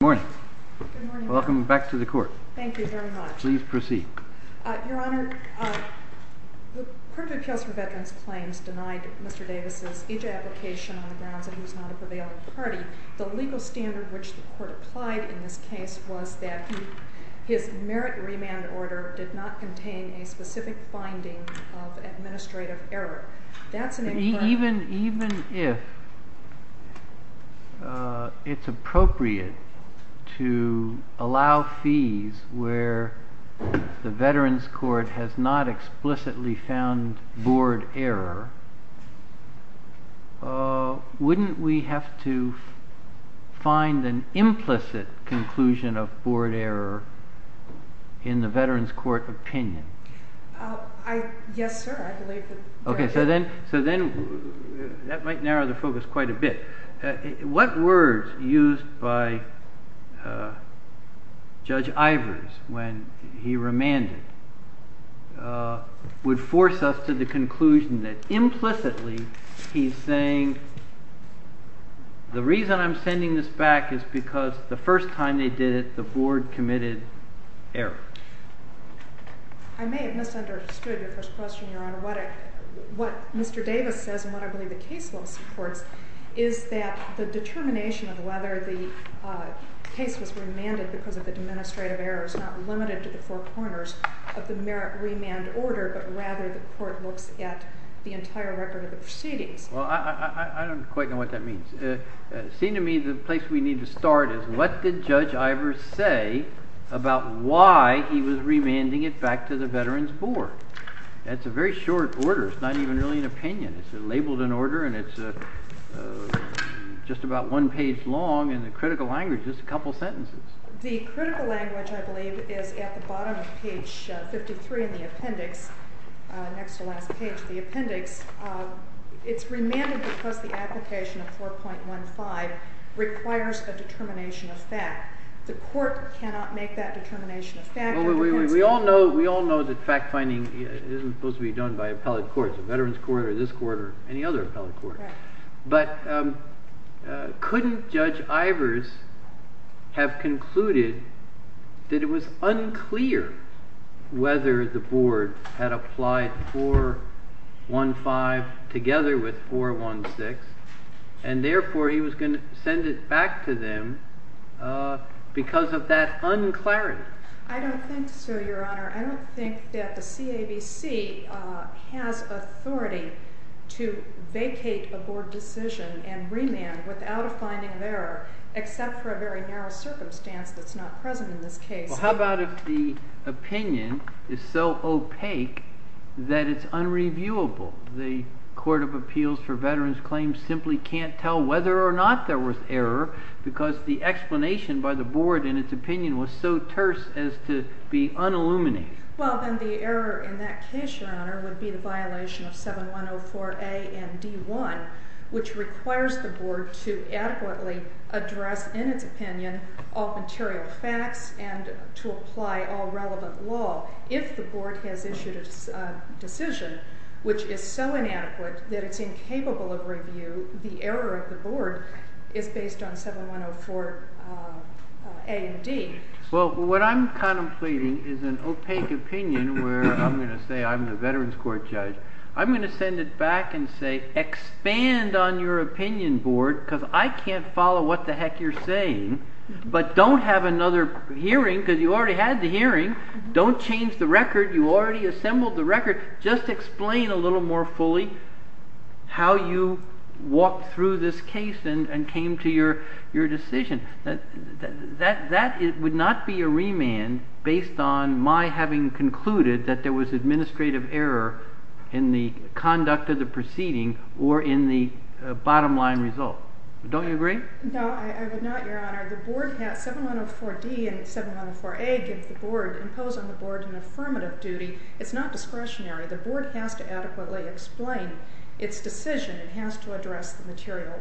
Good morning. Welcome back to the court. Thank you very much. Please proceed. Your Honor, the Court of Appeals for Veterans Claims denied Mr. Davis' EJ application on the grounds that he was not a prevailing party. The legal standard which the court applied in this case was that his merit remand order did not contain a specific finding of administrative error. Even if it's appropriate to allow fees where the Veterans Court has not explicitly found board error, wouldn't we have to find an implicit conclusion of board error in the Veterans Court opinion? Yes, sir. I believe that… Okay, so then that might narrow the focus quite a bit. What words used by Judge Ivers when he remanded would force us to the conclusion that implicitly he's saying the reason I'm sending this back is because the first time they did it, the board committed error? I may have misunderstood your first question, Your Honor. What Mr. Davis says and what I believe the case law supports is that the determination of whether the case was remanded because of the administrative error is not limited to the four corners of the merit remand order, but rather the court looks at the entire record of the proceedings. Well, I don't quite know what that means. It seems to me the place we need to start is what did Judge Ivers say about why he was remanding it back to the Veterans Board? That's a very short order. It's not even really an opinion. It's labeled in order and it's just about one page long in the critical language, just a couple sentences. The critical language, I believe, is at the bottom of page 53 in the appendix, next to the last page of the appendix. It's remanded because the application of 4.15 requires a determination of fact. The court cannot make that determination of fact. We all know that fact finding isn't supposed to be done by appellate courts, Veterans Court or this court or any other appellate court, but couldn't Judge Ivers have concluded that it was unclear whether the board had applied 4.15 together with 4.16 and therefore he was going to send it back to them because of that unclarity? I don't think so, Your Honor. I don't think that the CAVC has authority to vacate a board decision and remand without a finding of error, except for a very narrow circumstance that's not present in this case. Well, how about if the opinion is so opaque that it's unreviewable? The Court of Appeals for Veterans Claims simply can't tell whether or not there was error because the explanation by the board in its opinion was so terse as to be unilluminated. Well, then the error in that case, Your Honor, would be the violation of 7104A and D1, which requires the board to adequately address in its opinion all material facts and to apply all relevant law. If the board has issued a decision which is so inadequate that it's incapable of review, the error of the board is based on 7104A and D. Well, what I'm contemplating is an opaque opinion where I'm going to say I'm the Veterans Court judge. I'm going to send it back and say expand on your opinion board because I can't follow what the heck you're saying, but don't have another hearing because you already had the hearing. Don't change the record. You already assembled the record. Just explain a little more fully how you walked through this case and came to your decision. That would not be a remand based on my having concluded that there was administrative error in the conduct of the proceeding or in the bottom line result. Don't you agree? No, I would not, Your Honor. 7104D and 7104A impose on the board an affirmative duty. It's not discretionary. The board has to adequately explain its decision. It has to address the material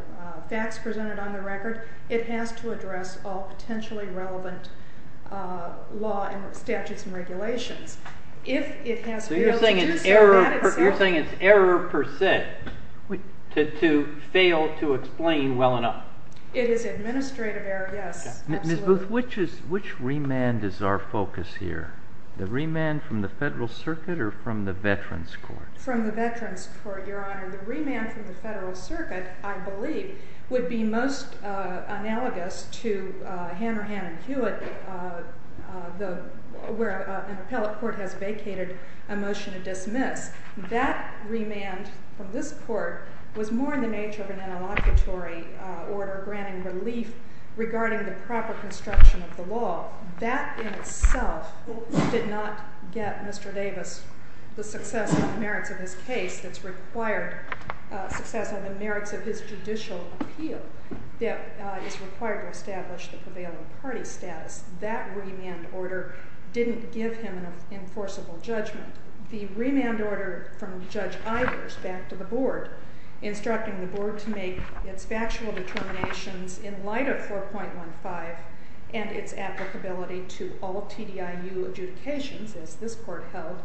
facts presented on the record. It has to address all potentially relevant law and statutes and regulations. So you're saying it's error per se to fail to explain well enough? It is administrative error, yes. Ms. Booth, which remand is our focus here? The remand from the Federal Circuit or from the Veterans Court? From the Veterans Court, Your Honor. The remand from the Federal Circuit, I believe, would be most analogous to Hanrahan and Hewitt where an appellate court has vacated a motion to dismiss. That remand from this court was more in the nature of an interlocutory order granting relief regarding the proper construction of the law. That in itself did not get Mr. Davis the success or the merits of his case that's required, success or the merits of his judicial appeal that is required to establish the prevailing party status. That remand order didn't give him an enforceable judgment. The remand order from Judge Ivers back to the board instructing the board to make its factual determinations in light of 4.15 and its applicability to all TDIU adjudications as this court held,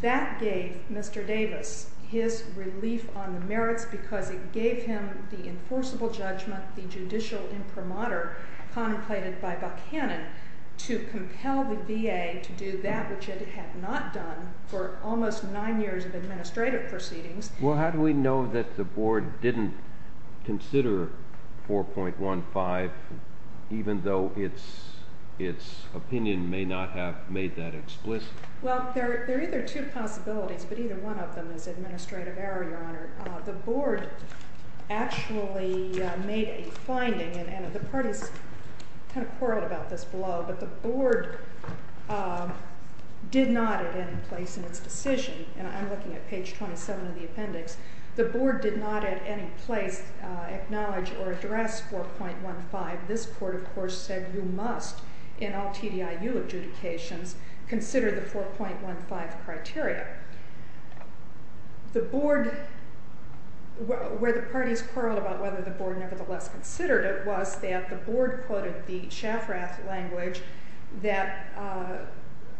that gave Mr. Davis his relief on the merits because it gave him the enforceable judgment, the judicial imprimatur contemplated by Buckhannon. To compel the VA to do that which it had not done for almost nine years of administrative proceedings. Well, how do we know that the board didn't consider 4.15 even though its opinion may not have made that explicit? Well, there are either two possibilities, but either one of them is administrative error, Your Honor. The board actually made a finding, and the parties kind of quarreled about this below, but the board did not at any place in its decision, and I'm looking at page 27 of the appendix. The board did not at any place acknowledge or address 4.15. This court, of course, said you must in all TDIU adjudications consider the 4.15 criteria. The board, where the parties quarreled about whether the board nevertheless considered it was that the board quoted the Shafrath language that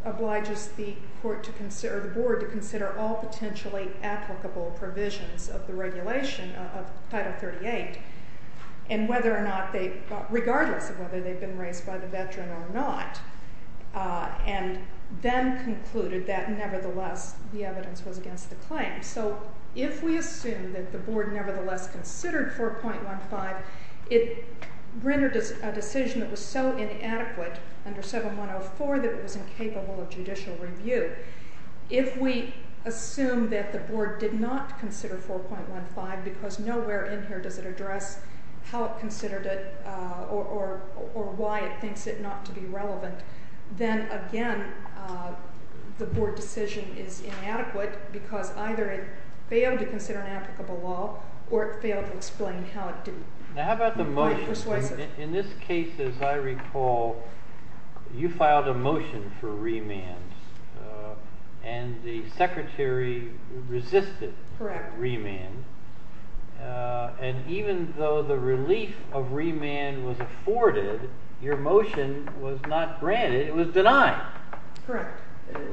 obliges the board to consider all potentially applicable provisions of the regulation of Title 38, regardless of whether they've been raised by the veteran or not, and then concluded that nevertheless the evidence was against the claim. So if we assume that the board nevertheless considered 4.15, it rendered a decision that was so inadequate under 7104 that it was incapable of judicial review. If we assume that the board did not consider 4.15 because nowhere in here does it address how it considered it or why it thinks it not to be relevant, then again, the board decision is inadequate because either it failed to consider an applicable law or it failed to explain how it did. Now, how about the motion? In this case, as I recall, you filed a motion for remand, and the secretary resisted remand. And even though the relief of remand was afforded, your motion was not granted. It was denied.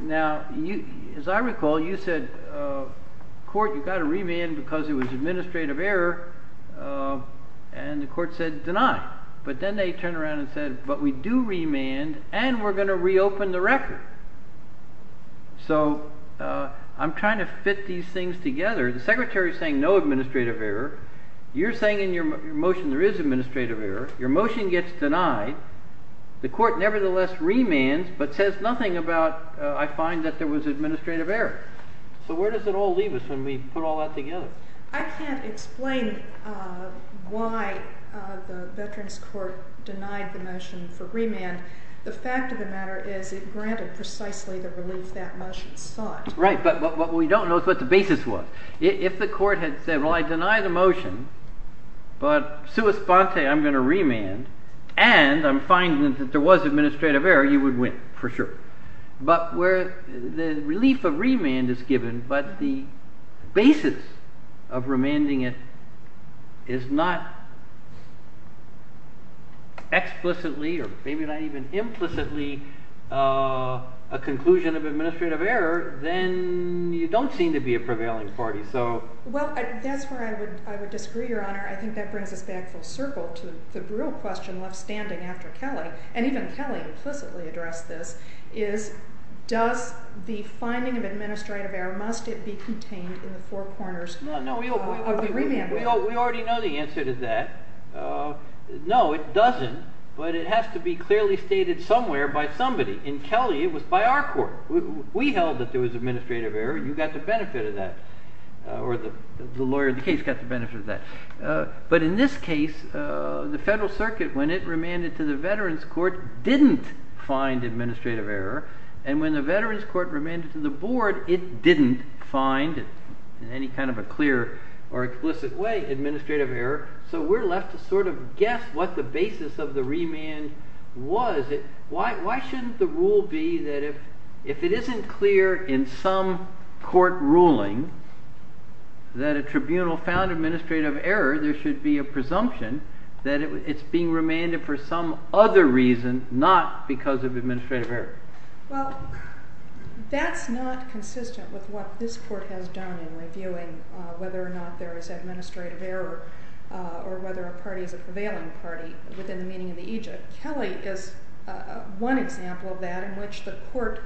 Now, as I recall, you said, court, you've got to remand because it was administrative error. And the court said deny. But then they turned around and said, but we do remand, and we're going to reopen the record. So I'm trying to fit these things together. The secretary is saying no administrative error. You're saying in your motion there is administrative error. Your motion gets denied. The court nevertheless remands, but says nothing about I find that there was administrative error. So where does it all leave us when we put all that together? I can't explain why the Veterans Court denied the motion for remand. The fact of the matter is it granted precisely the relief that motion sought. Right, but what we don't know is what the basis was. If the court had said, well, I deny the motion, but sua sponte, I'm going to remand, and I'm finding that there was administrative error, you would win for sure. But where the relief of remand is given, but the basis of remanding it is not explicitly or maybe not even implicitly a conclusion of administrative error, then you don't seem to be a prevailing party. Well, that's where I would disagree, Your Honor. I think that brings us back full circle to the real question left standing after Kelly, and even Kelly implicitly addressed this, is does the finding of administrative error, must it be contained in the four corners of the remand? We already know the answer to that. No, it doesn't, but it has to be clearly stated somewhere by somebody. In Kelly, it was by our court. We held that there was administrative error, and you got the benefit of that, or the lawyer of the case got the benefit of that. But in this case, the Federal Circuit, when it remanded to the Veterans Court, didn't find administrative error, and when the Veterans Court remanded to the board, it didn't find in any kind of a clear or explicit way administrative error, so we're left to sort of guess what the basis of the remand was. Why shouldn't the rule be that if it isn't clear in some court ruling that a tribunal found administrative error, there should be a presumption that it's being remanded for some other reason, not because of administrative error? Well, that's not consistent with what this court has done in reviewing whether or not there is administrative error, or whether a party is a prevailing party within the meaning of the aegis. Kelly is one example of that, in which the court,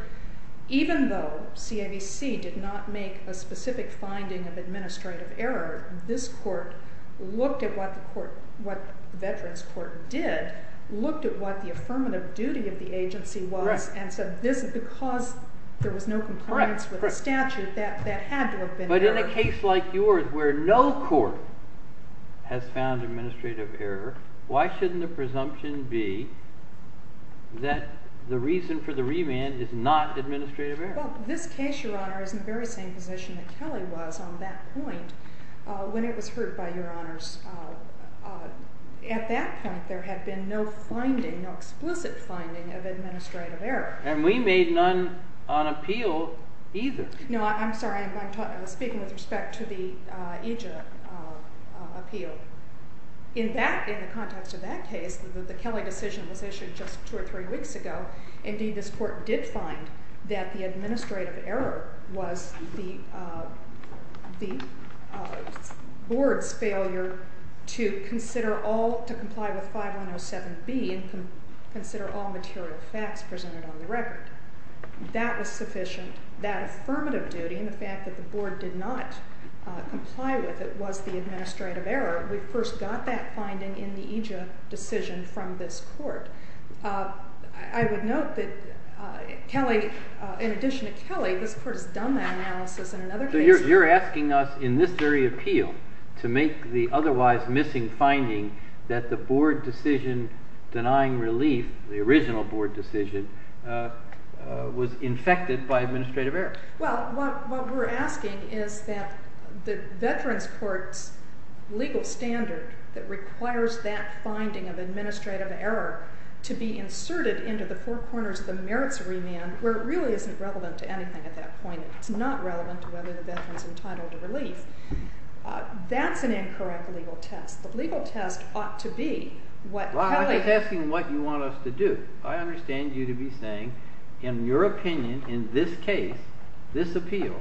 even though CAVC did not make a specific finding of administrative error, this court looked at what the Veterans Court did, looked at what the affirmative duty of the agency was, and said, because there was no compliance with the statute, that had to have been error. But in a case like yours, where no court has found administrative error, why shouldn't the presumption be that the reason for the remand is not administrative error? Well, this case, Your Honor, is in the very same position that Kelly was on that point when it was heard by Your Honors. At that point, there had been no finding, no explicit finding of administrative error. And we made none on appeal either. No, I'm sorry, I'm speaking with respect to the aegis appeal. In the context of that case, the Kelly decision was issued just two or three weeks ago. Indeed, this court did find that the administrative error was the board's failure to consider all, to comply with 5107B and consider all material facts presented on the record. That was sufficient. That affirmative duty and the fact that the board did not comply with it was the administrative error. We first got that finding in the aegis decision from this court. I would note that Kelly, in addition to Kelly, this court has done that analysis in another case. You're asking us, in this very appeal, to make the otherwise missing finding that the board decision denying relief, the original board decision, was infected by administrative error. Well, what we're asking is that the veterans court's legal standard that requires that finding of administrative error to be inserted into the four corners of the merits remand, where it really isn't relevant to anything at that point. It's not relevant to whether the veteran's entitled to relief. That's an incorrect legal test. The legal test ought to be what Kelly has. I'm not asking what you want us to do. I understand you to be saying, in your opinion, in this case, this appeal,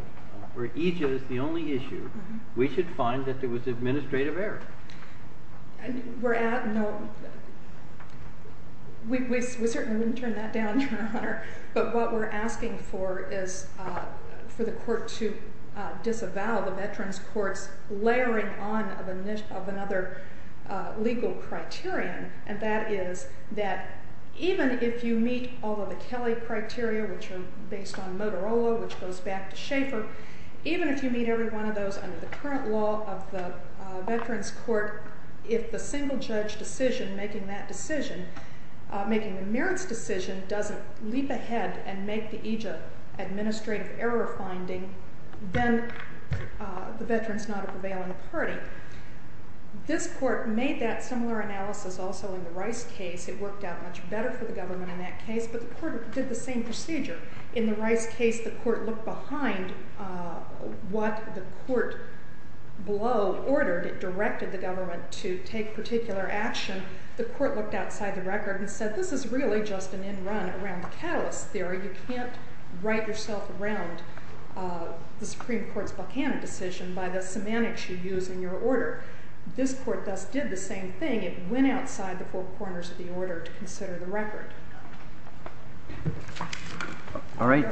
where aegis is the only issue, we should find that there was administrative error. We certainly wouldn't turn that down, Your Honor. But what we're asking for is for the court to disavow the veterans court's layering on of another legal criterion. And that is that even if you meet all of the Kelly criteria, which are based on Motorola, which goes back to Schaefer, even if you meet every one of those under the current law of the veterans court, if the single judge decision making that decision, making the merits decision, doesn't leap ahead and make the aegis administrative error finding, then the veteran's not a prevailing party. This court made that similar analysis also in the Rice case. It worked out much better for the government in that case, but the court did the same procedure. In the Rice case, the court looked behind what the court below ordered. It directed the government to take particular action. The court looked outside the record and said, this is really just an in-run around the catalyst theory. You can't write yourself around the Supreme Court's Buchanan decision by the semantics you use in your order. This court thus did the same thing. It went outside the four corners of the order to consider the record. All right.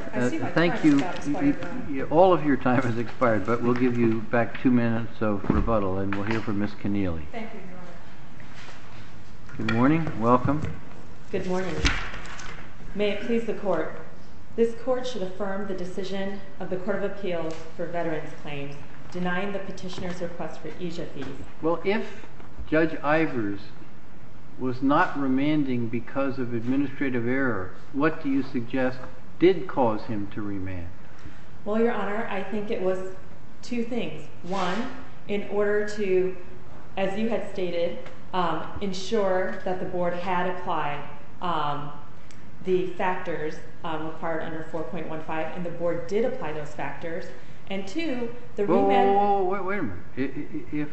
Thank you. All of your time has expired, but we'll give you back two minutes of rebuttal, and we'll hear from Ms. Keneally. Thank you, Your Honor. Good morning. Welcome. Good morning. May it please the court, this court should affirm the decision of the Court of Appeals for veterans claims denying the petitioner's request for aegis fees. Well, if Judge Ivers was not remanding because of administrative error, what do you suggest did cause him to remand? Well, Your Honor, I think it was two things. One, in order to, as you had stated, ensure that the board had applied the factors required under 4.15, and the board did apply those factors. And two, the remand... Whoa, whoa, whoa. Wait a minute. If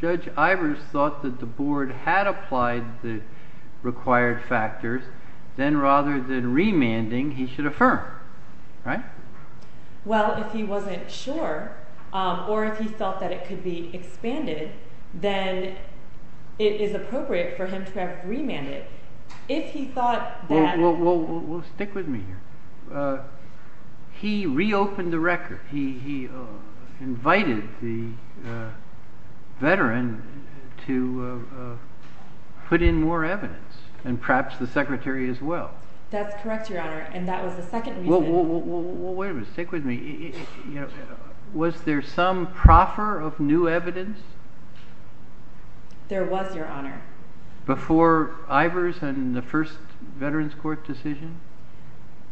Judge Ivers thought that the board had applied the required factors, then rather than remanding, he should affirm, right? Well, if he wasn't sure, or if he felt that it could be expanded, then it is appropriate for him to have remanded. If he thought that... Whoa, whoa, whoa. Stick with me here. He reopened the record. He invited the veteran to put in more evidence, and perhaps the secretary as well. That's correct, Your Honor, and that was the second reason... Whoa, whoa, whoa. Wait a minute. Stick with me. Was there some proffer of new evidence? There was, Your Honor. Before Ivers and the first Veterans Court decision?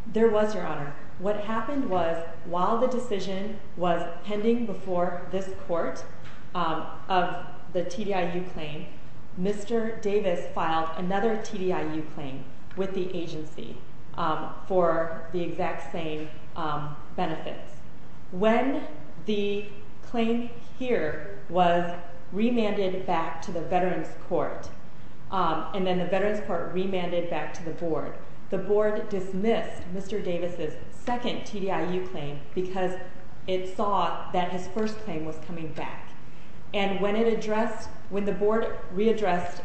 There was, Your Honor. What happened was, while the decision was pending before this court of the TDIU claim, Mr. Davis filed another TDIU claim with the agency for the exact same benefits. When the claim here was remanded back to the Veterans Court, and then the Veterans Court remanded back to the board, the board dismissed Mr. Davis' second TDIU claim because it saw that his first claim was coming back. When the board readdressed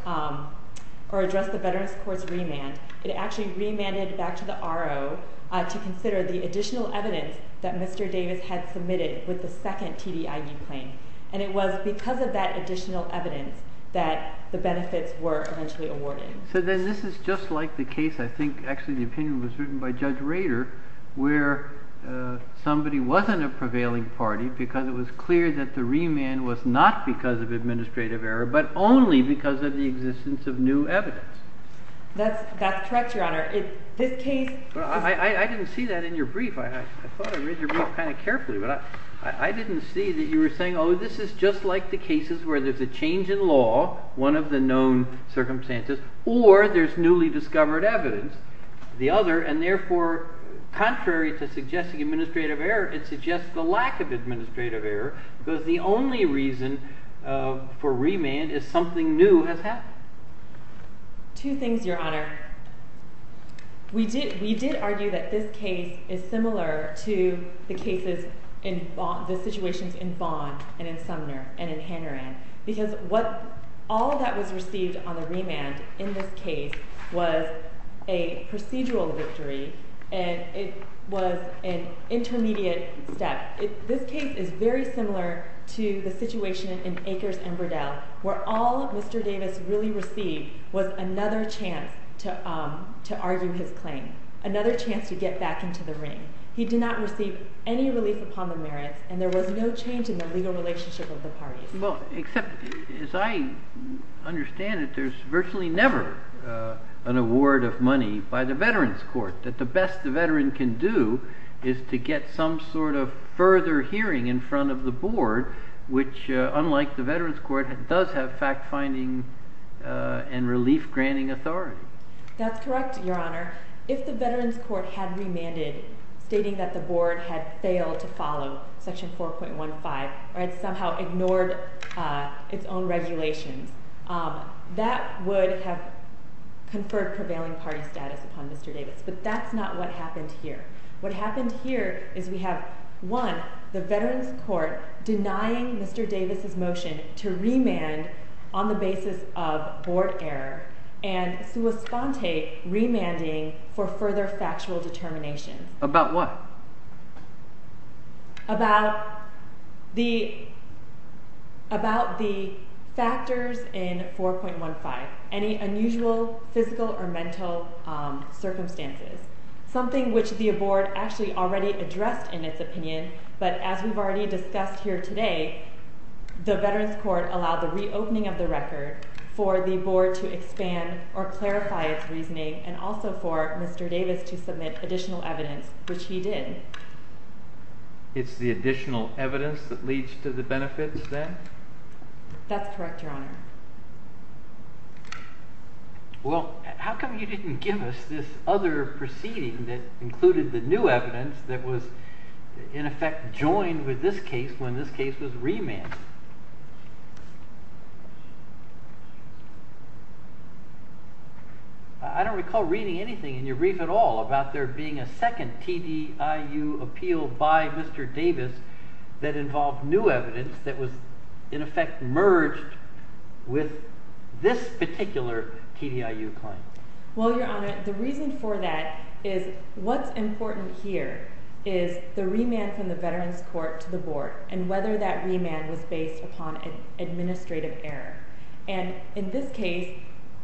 or addressed the Veterans Court's remand, it actually remanded back to the RO to consider the additional evidence that Mr. Davis had submitted with the second TDIU claim. It was because of that additional evidence that the benefits were eventually awarded. So then this is just like the case, I think, actually the opinion was written by Judge Rader, where somebody wasn't a prevailing party because it was clear that the remand was not because of administrative error, but only because of the existence of new evidence. That's correct, Your Honor. I didn't see that in your brief. I thought I read your brief kind of carefully, but I didn't see that you were saying, oh, this is just like the cases where there's a change in law, one of the known circumstances, or there's newly discovered evidence. The other, and therefore contrary to suggesting administrative error, it suggests the lack of administrative error because the only reason for remand is something new has happened. Two things, Your Honor. We did argue that this case is similar to the cases, the situations in Vaughan and in Sumner and in Hanoran, because all that was received on the remand in this case was a procedural victory, and it was an intermediate step. This case is very similar to the situation in Akers and Burdell, where all Mr. Davis really received was another chance to argue his claim, another chance to get back into the ring. He did not receive any relief upon the merits, and there was no change in the legal relationship of the parties. Well, except, as I understand it, there's virtually never an award of money by the Veterans Court, that the best the veteran can do is to get some sort of further hearing in front of the board, which, unlike the Veterans Court, does have fact-finding and relief-granting authority. That's correct, Your Honor. If the Veterans Court had remanded, stating that the board had failed to follow Section 4.15 or had somehow ignored its own regulations, that would have conferred prevailing party status upon Mr. Davis, but that's not what happened here. What happened here is we have, one, the Veterans Court denying Mr. Davis' motion to remand on the basis of board error and sua sponte remanding for further factual determination. About what? Something which the board actually already addressed in its opinion, but as we've already discussed here today, the Veterans Court allowed the reopening of the record for the board to expand or clarify its reasoning, and also for Mr. Davis to submit additional evidence, which he did. It's the additional evidence that leads to the benefits, then? That's correct, Your Honor. Well, how come you didn't give us this other proceeding that included the new evidence that was, in effect, joined with this case when this case was remanded? I don't recall reading anything in your brief at all about there being a second TDIU appeal by Mr. Davis that involved new evidence that was, in effect, merged with this particular TDIU claim. Well, Your Honor, the reason for that is what's important here is the remand from the Veterans Court to the board and whether that remand was based upon administrative error. And in this case,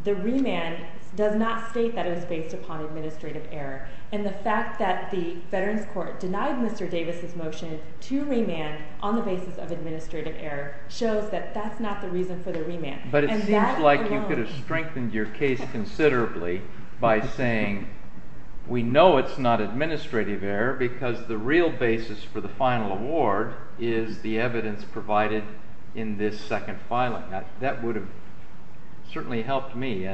the remand does not state that it was based upon administrative error. And the fact that the Veterans Court denied Mr. Davis' motion to remand on the basis of administrative error shows that that's not the reason for the remand. But it seems like you could have strengthened your case considerably by saying, we know it's not administrative error because the real basis for the final award is the evidence provided in this second filing. That would have certainly helped me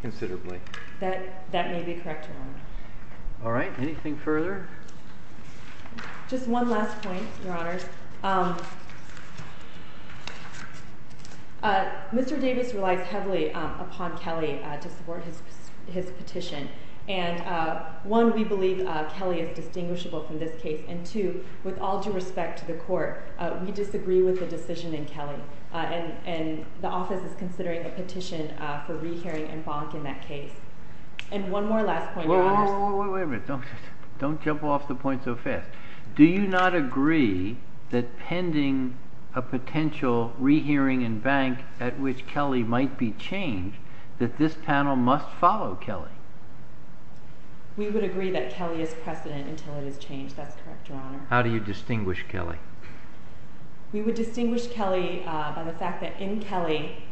considerably. That may be correct, Your Honor. All right. Anything further? Just one last point, Your Honors. Mr. Davis relies heavily upon Kelly to support his petition. And one, we believe Kelly is distinguishable from this case. And two, with all due respect to the court, we disagree with the decision in Kelly. And the office is considering a petition for rehearing and bonk in that case. And one more last point, Your Honors. Wait a minute. Don't jump off the point so fast. Do you not agree that pending a potential rehearing and bank at which Kelly might be changed, that this panel must follow Kelly? We would agree that Kelly is precedent until it is changed. That's correct, Your Honor. How do you distinguish Kelly? We would distinguish Kelly by the fact that in Kelly,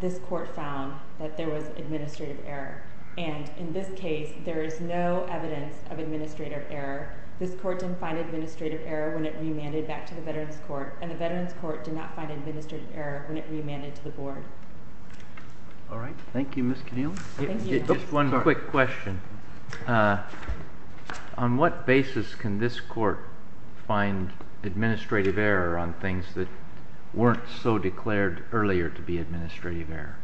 this court found that there was administrative error. And in this case, there is no evidence of administrative error. This court didn't find administrative error when it remanded back to the Veterans Court. And the Veterans Court did not find administrative error when it remanded to the board. All right. Thank you, Ms. Connealy. Just one quick question. On what basis can this court find administrative error on things that weren't so declared earlier to be administrative error?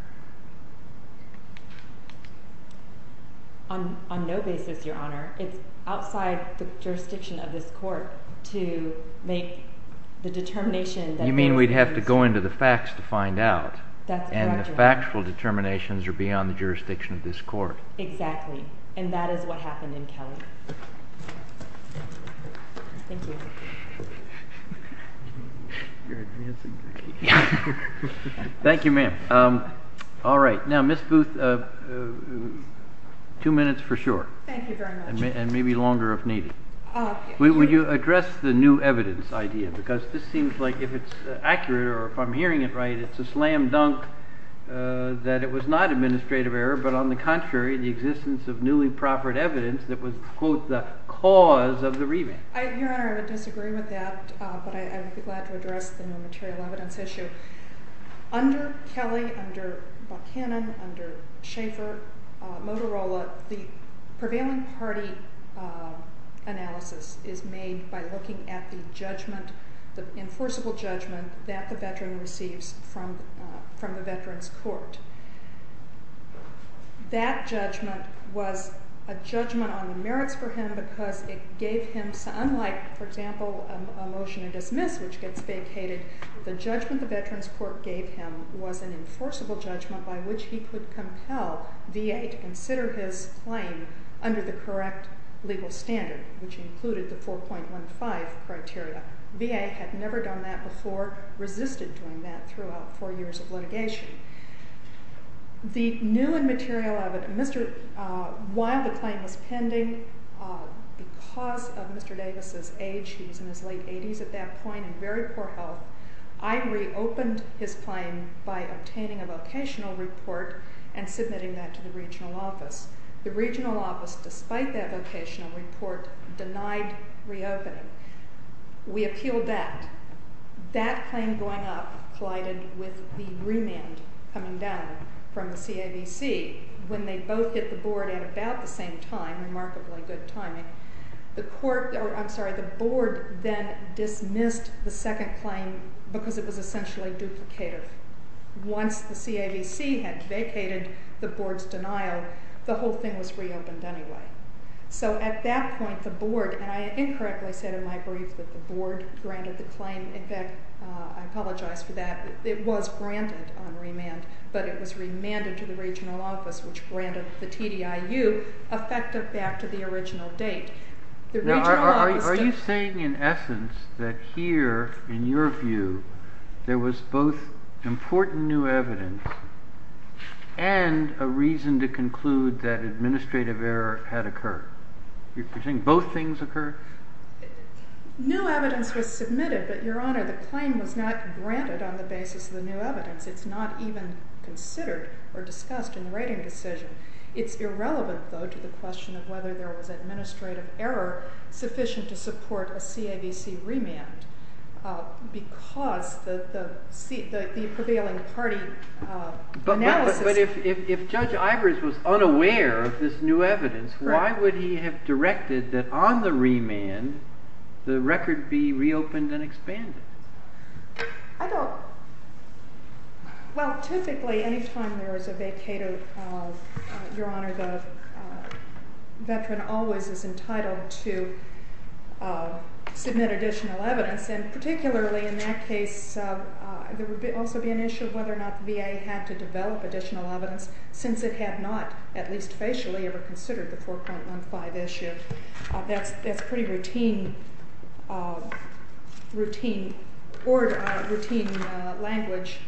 On no basis, Your Honor. It's outside the jurisdiction of this court to make the determination. You mean we'd have to go into the facts to find out. That's correct, Your Honor. And the factual determinations are beyond the jurisdiction of this court. Exactly. And that is what happened in Kelly. Thank you. Thank you, ma'am. All right. Now, Ms. Booth, two minutes for sure. Thank you very much. And maybe longer if needed. Would you address the new evidence idea? Because this seems like if it's accurate or if I'm hearing it right, it's a slam dunk that it was not administrative error. But on the contrary, the existence of newly proffered evidence that was, quote, the cause of the remand. Your Honor, I would disagree with that, but I would be glad to address the new material evidence issue. Under Kelly, under Buchanan, under Schaefer, Motorola, the prevailing party analysis is made by looking at the judgment, the enforceable judgment that the veteran receives from the veterans court. That judgment was a judgment on the merits for him because it gave him, unlike, for example, a motion to dismiss, which gets vacated, the judgment the veterans court gave him was an enforceable judgment by which he could compel VA to consider his claim under the correct legal standard, which included the 4.15 criteria. VA had never done that before, resisted doing that throughout four years of litigation. The new material evidence, while the claim was pending, because of Mr. Davis' age, he was in his late 80s at that point and very poor health, I reopened his claim by obtaining a vocational report and submitting that to the regional office. The regional office, despite that vocational report, denied reopening. We appealed that. That claim going up collided with the remand coming down from the CAVC when they both hit the board at about the same time, remarkably good timing. The board then dismissed the second claim because it was essentially duplicator. Once the CAVC had vacated the board's denial, the whole thing was reopened anyway. So at that point, the board, and I incorrectly said in my brief that the board granted the claim. In fact, I apologize for that. It was granted on remand, but it was remanded to the regional office, which granted the TDIU effective back to the original date. Are you saying, in essence, that here, in your view, there was both important new evidence and a reason to conclude that administrative error had occurred? You're saying both things occurred? New evidence was submitted, but, Your Honor, the claim was not granted on the basis of the new evidence. It's not even considered or discussed in the rating decision. It's irrelevant, though, to the question of whether there was administrative error sufficient to support a CAVC remand because the prevailing party analysis— But if Judge Ivers was unaware of this new evidence, why would he have directed that on the remand the record be reopened and expanded? I don't— Well, typically, any time there is a vacator, Your Honor, the veteran always is entitled to submit additional evidence. And particularly in that case, there would also be an issue of whether or not the VA had to develop additional evidence since it had not, at least facially, ever considered the 4.15 issue. That's pretty routine order, routine language.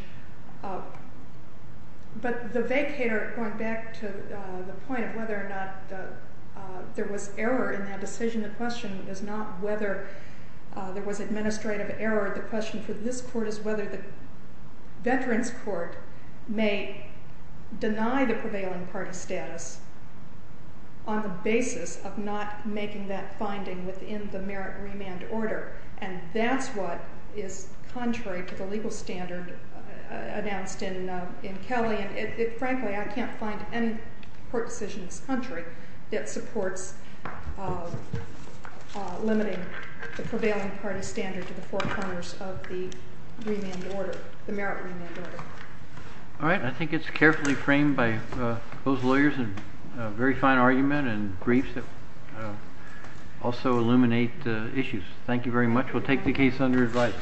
But the vacator, going back to the point of whether or not there was error in that decision, the question is not whether there was administrative error. The question for this Court is whether the Veterans Court may deny the prevailing party status on the basis of not making that finding within the merit remand order. And that's what is contrary to the legal standard announced in Kelly. And frankly, I can't find any court decision in this country that supports limiting the prevailing party standard to the four corners of the remand order, the merit remand order. All right. I think it's carefully framed by both lawyers in a very fine argument and briefs that also illuminate the issues. Thank you very much. We'll take the case under advice.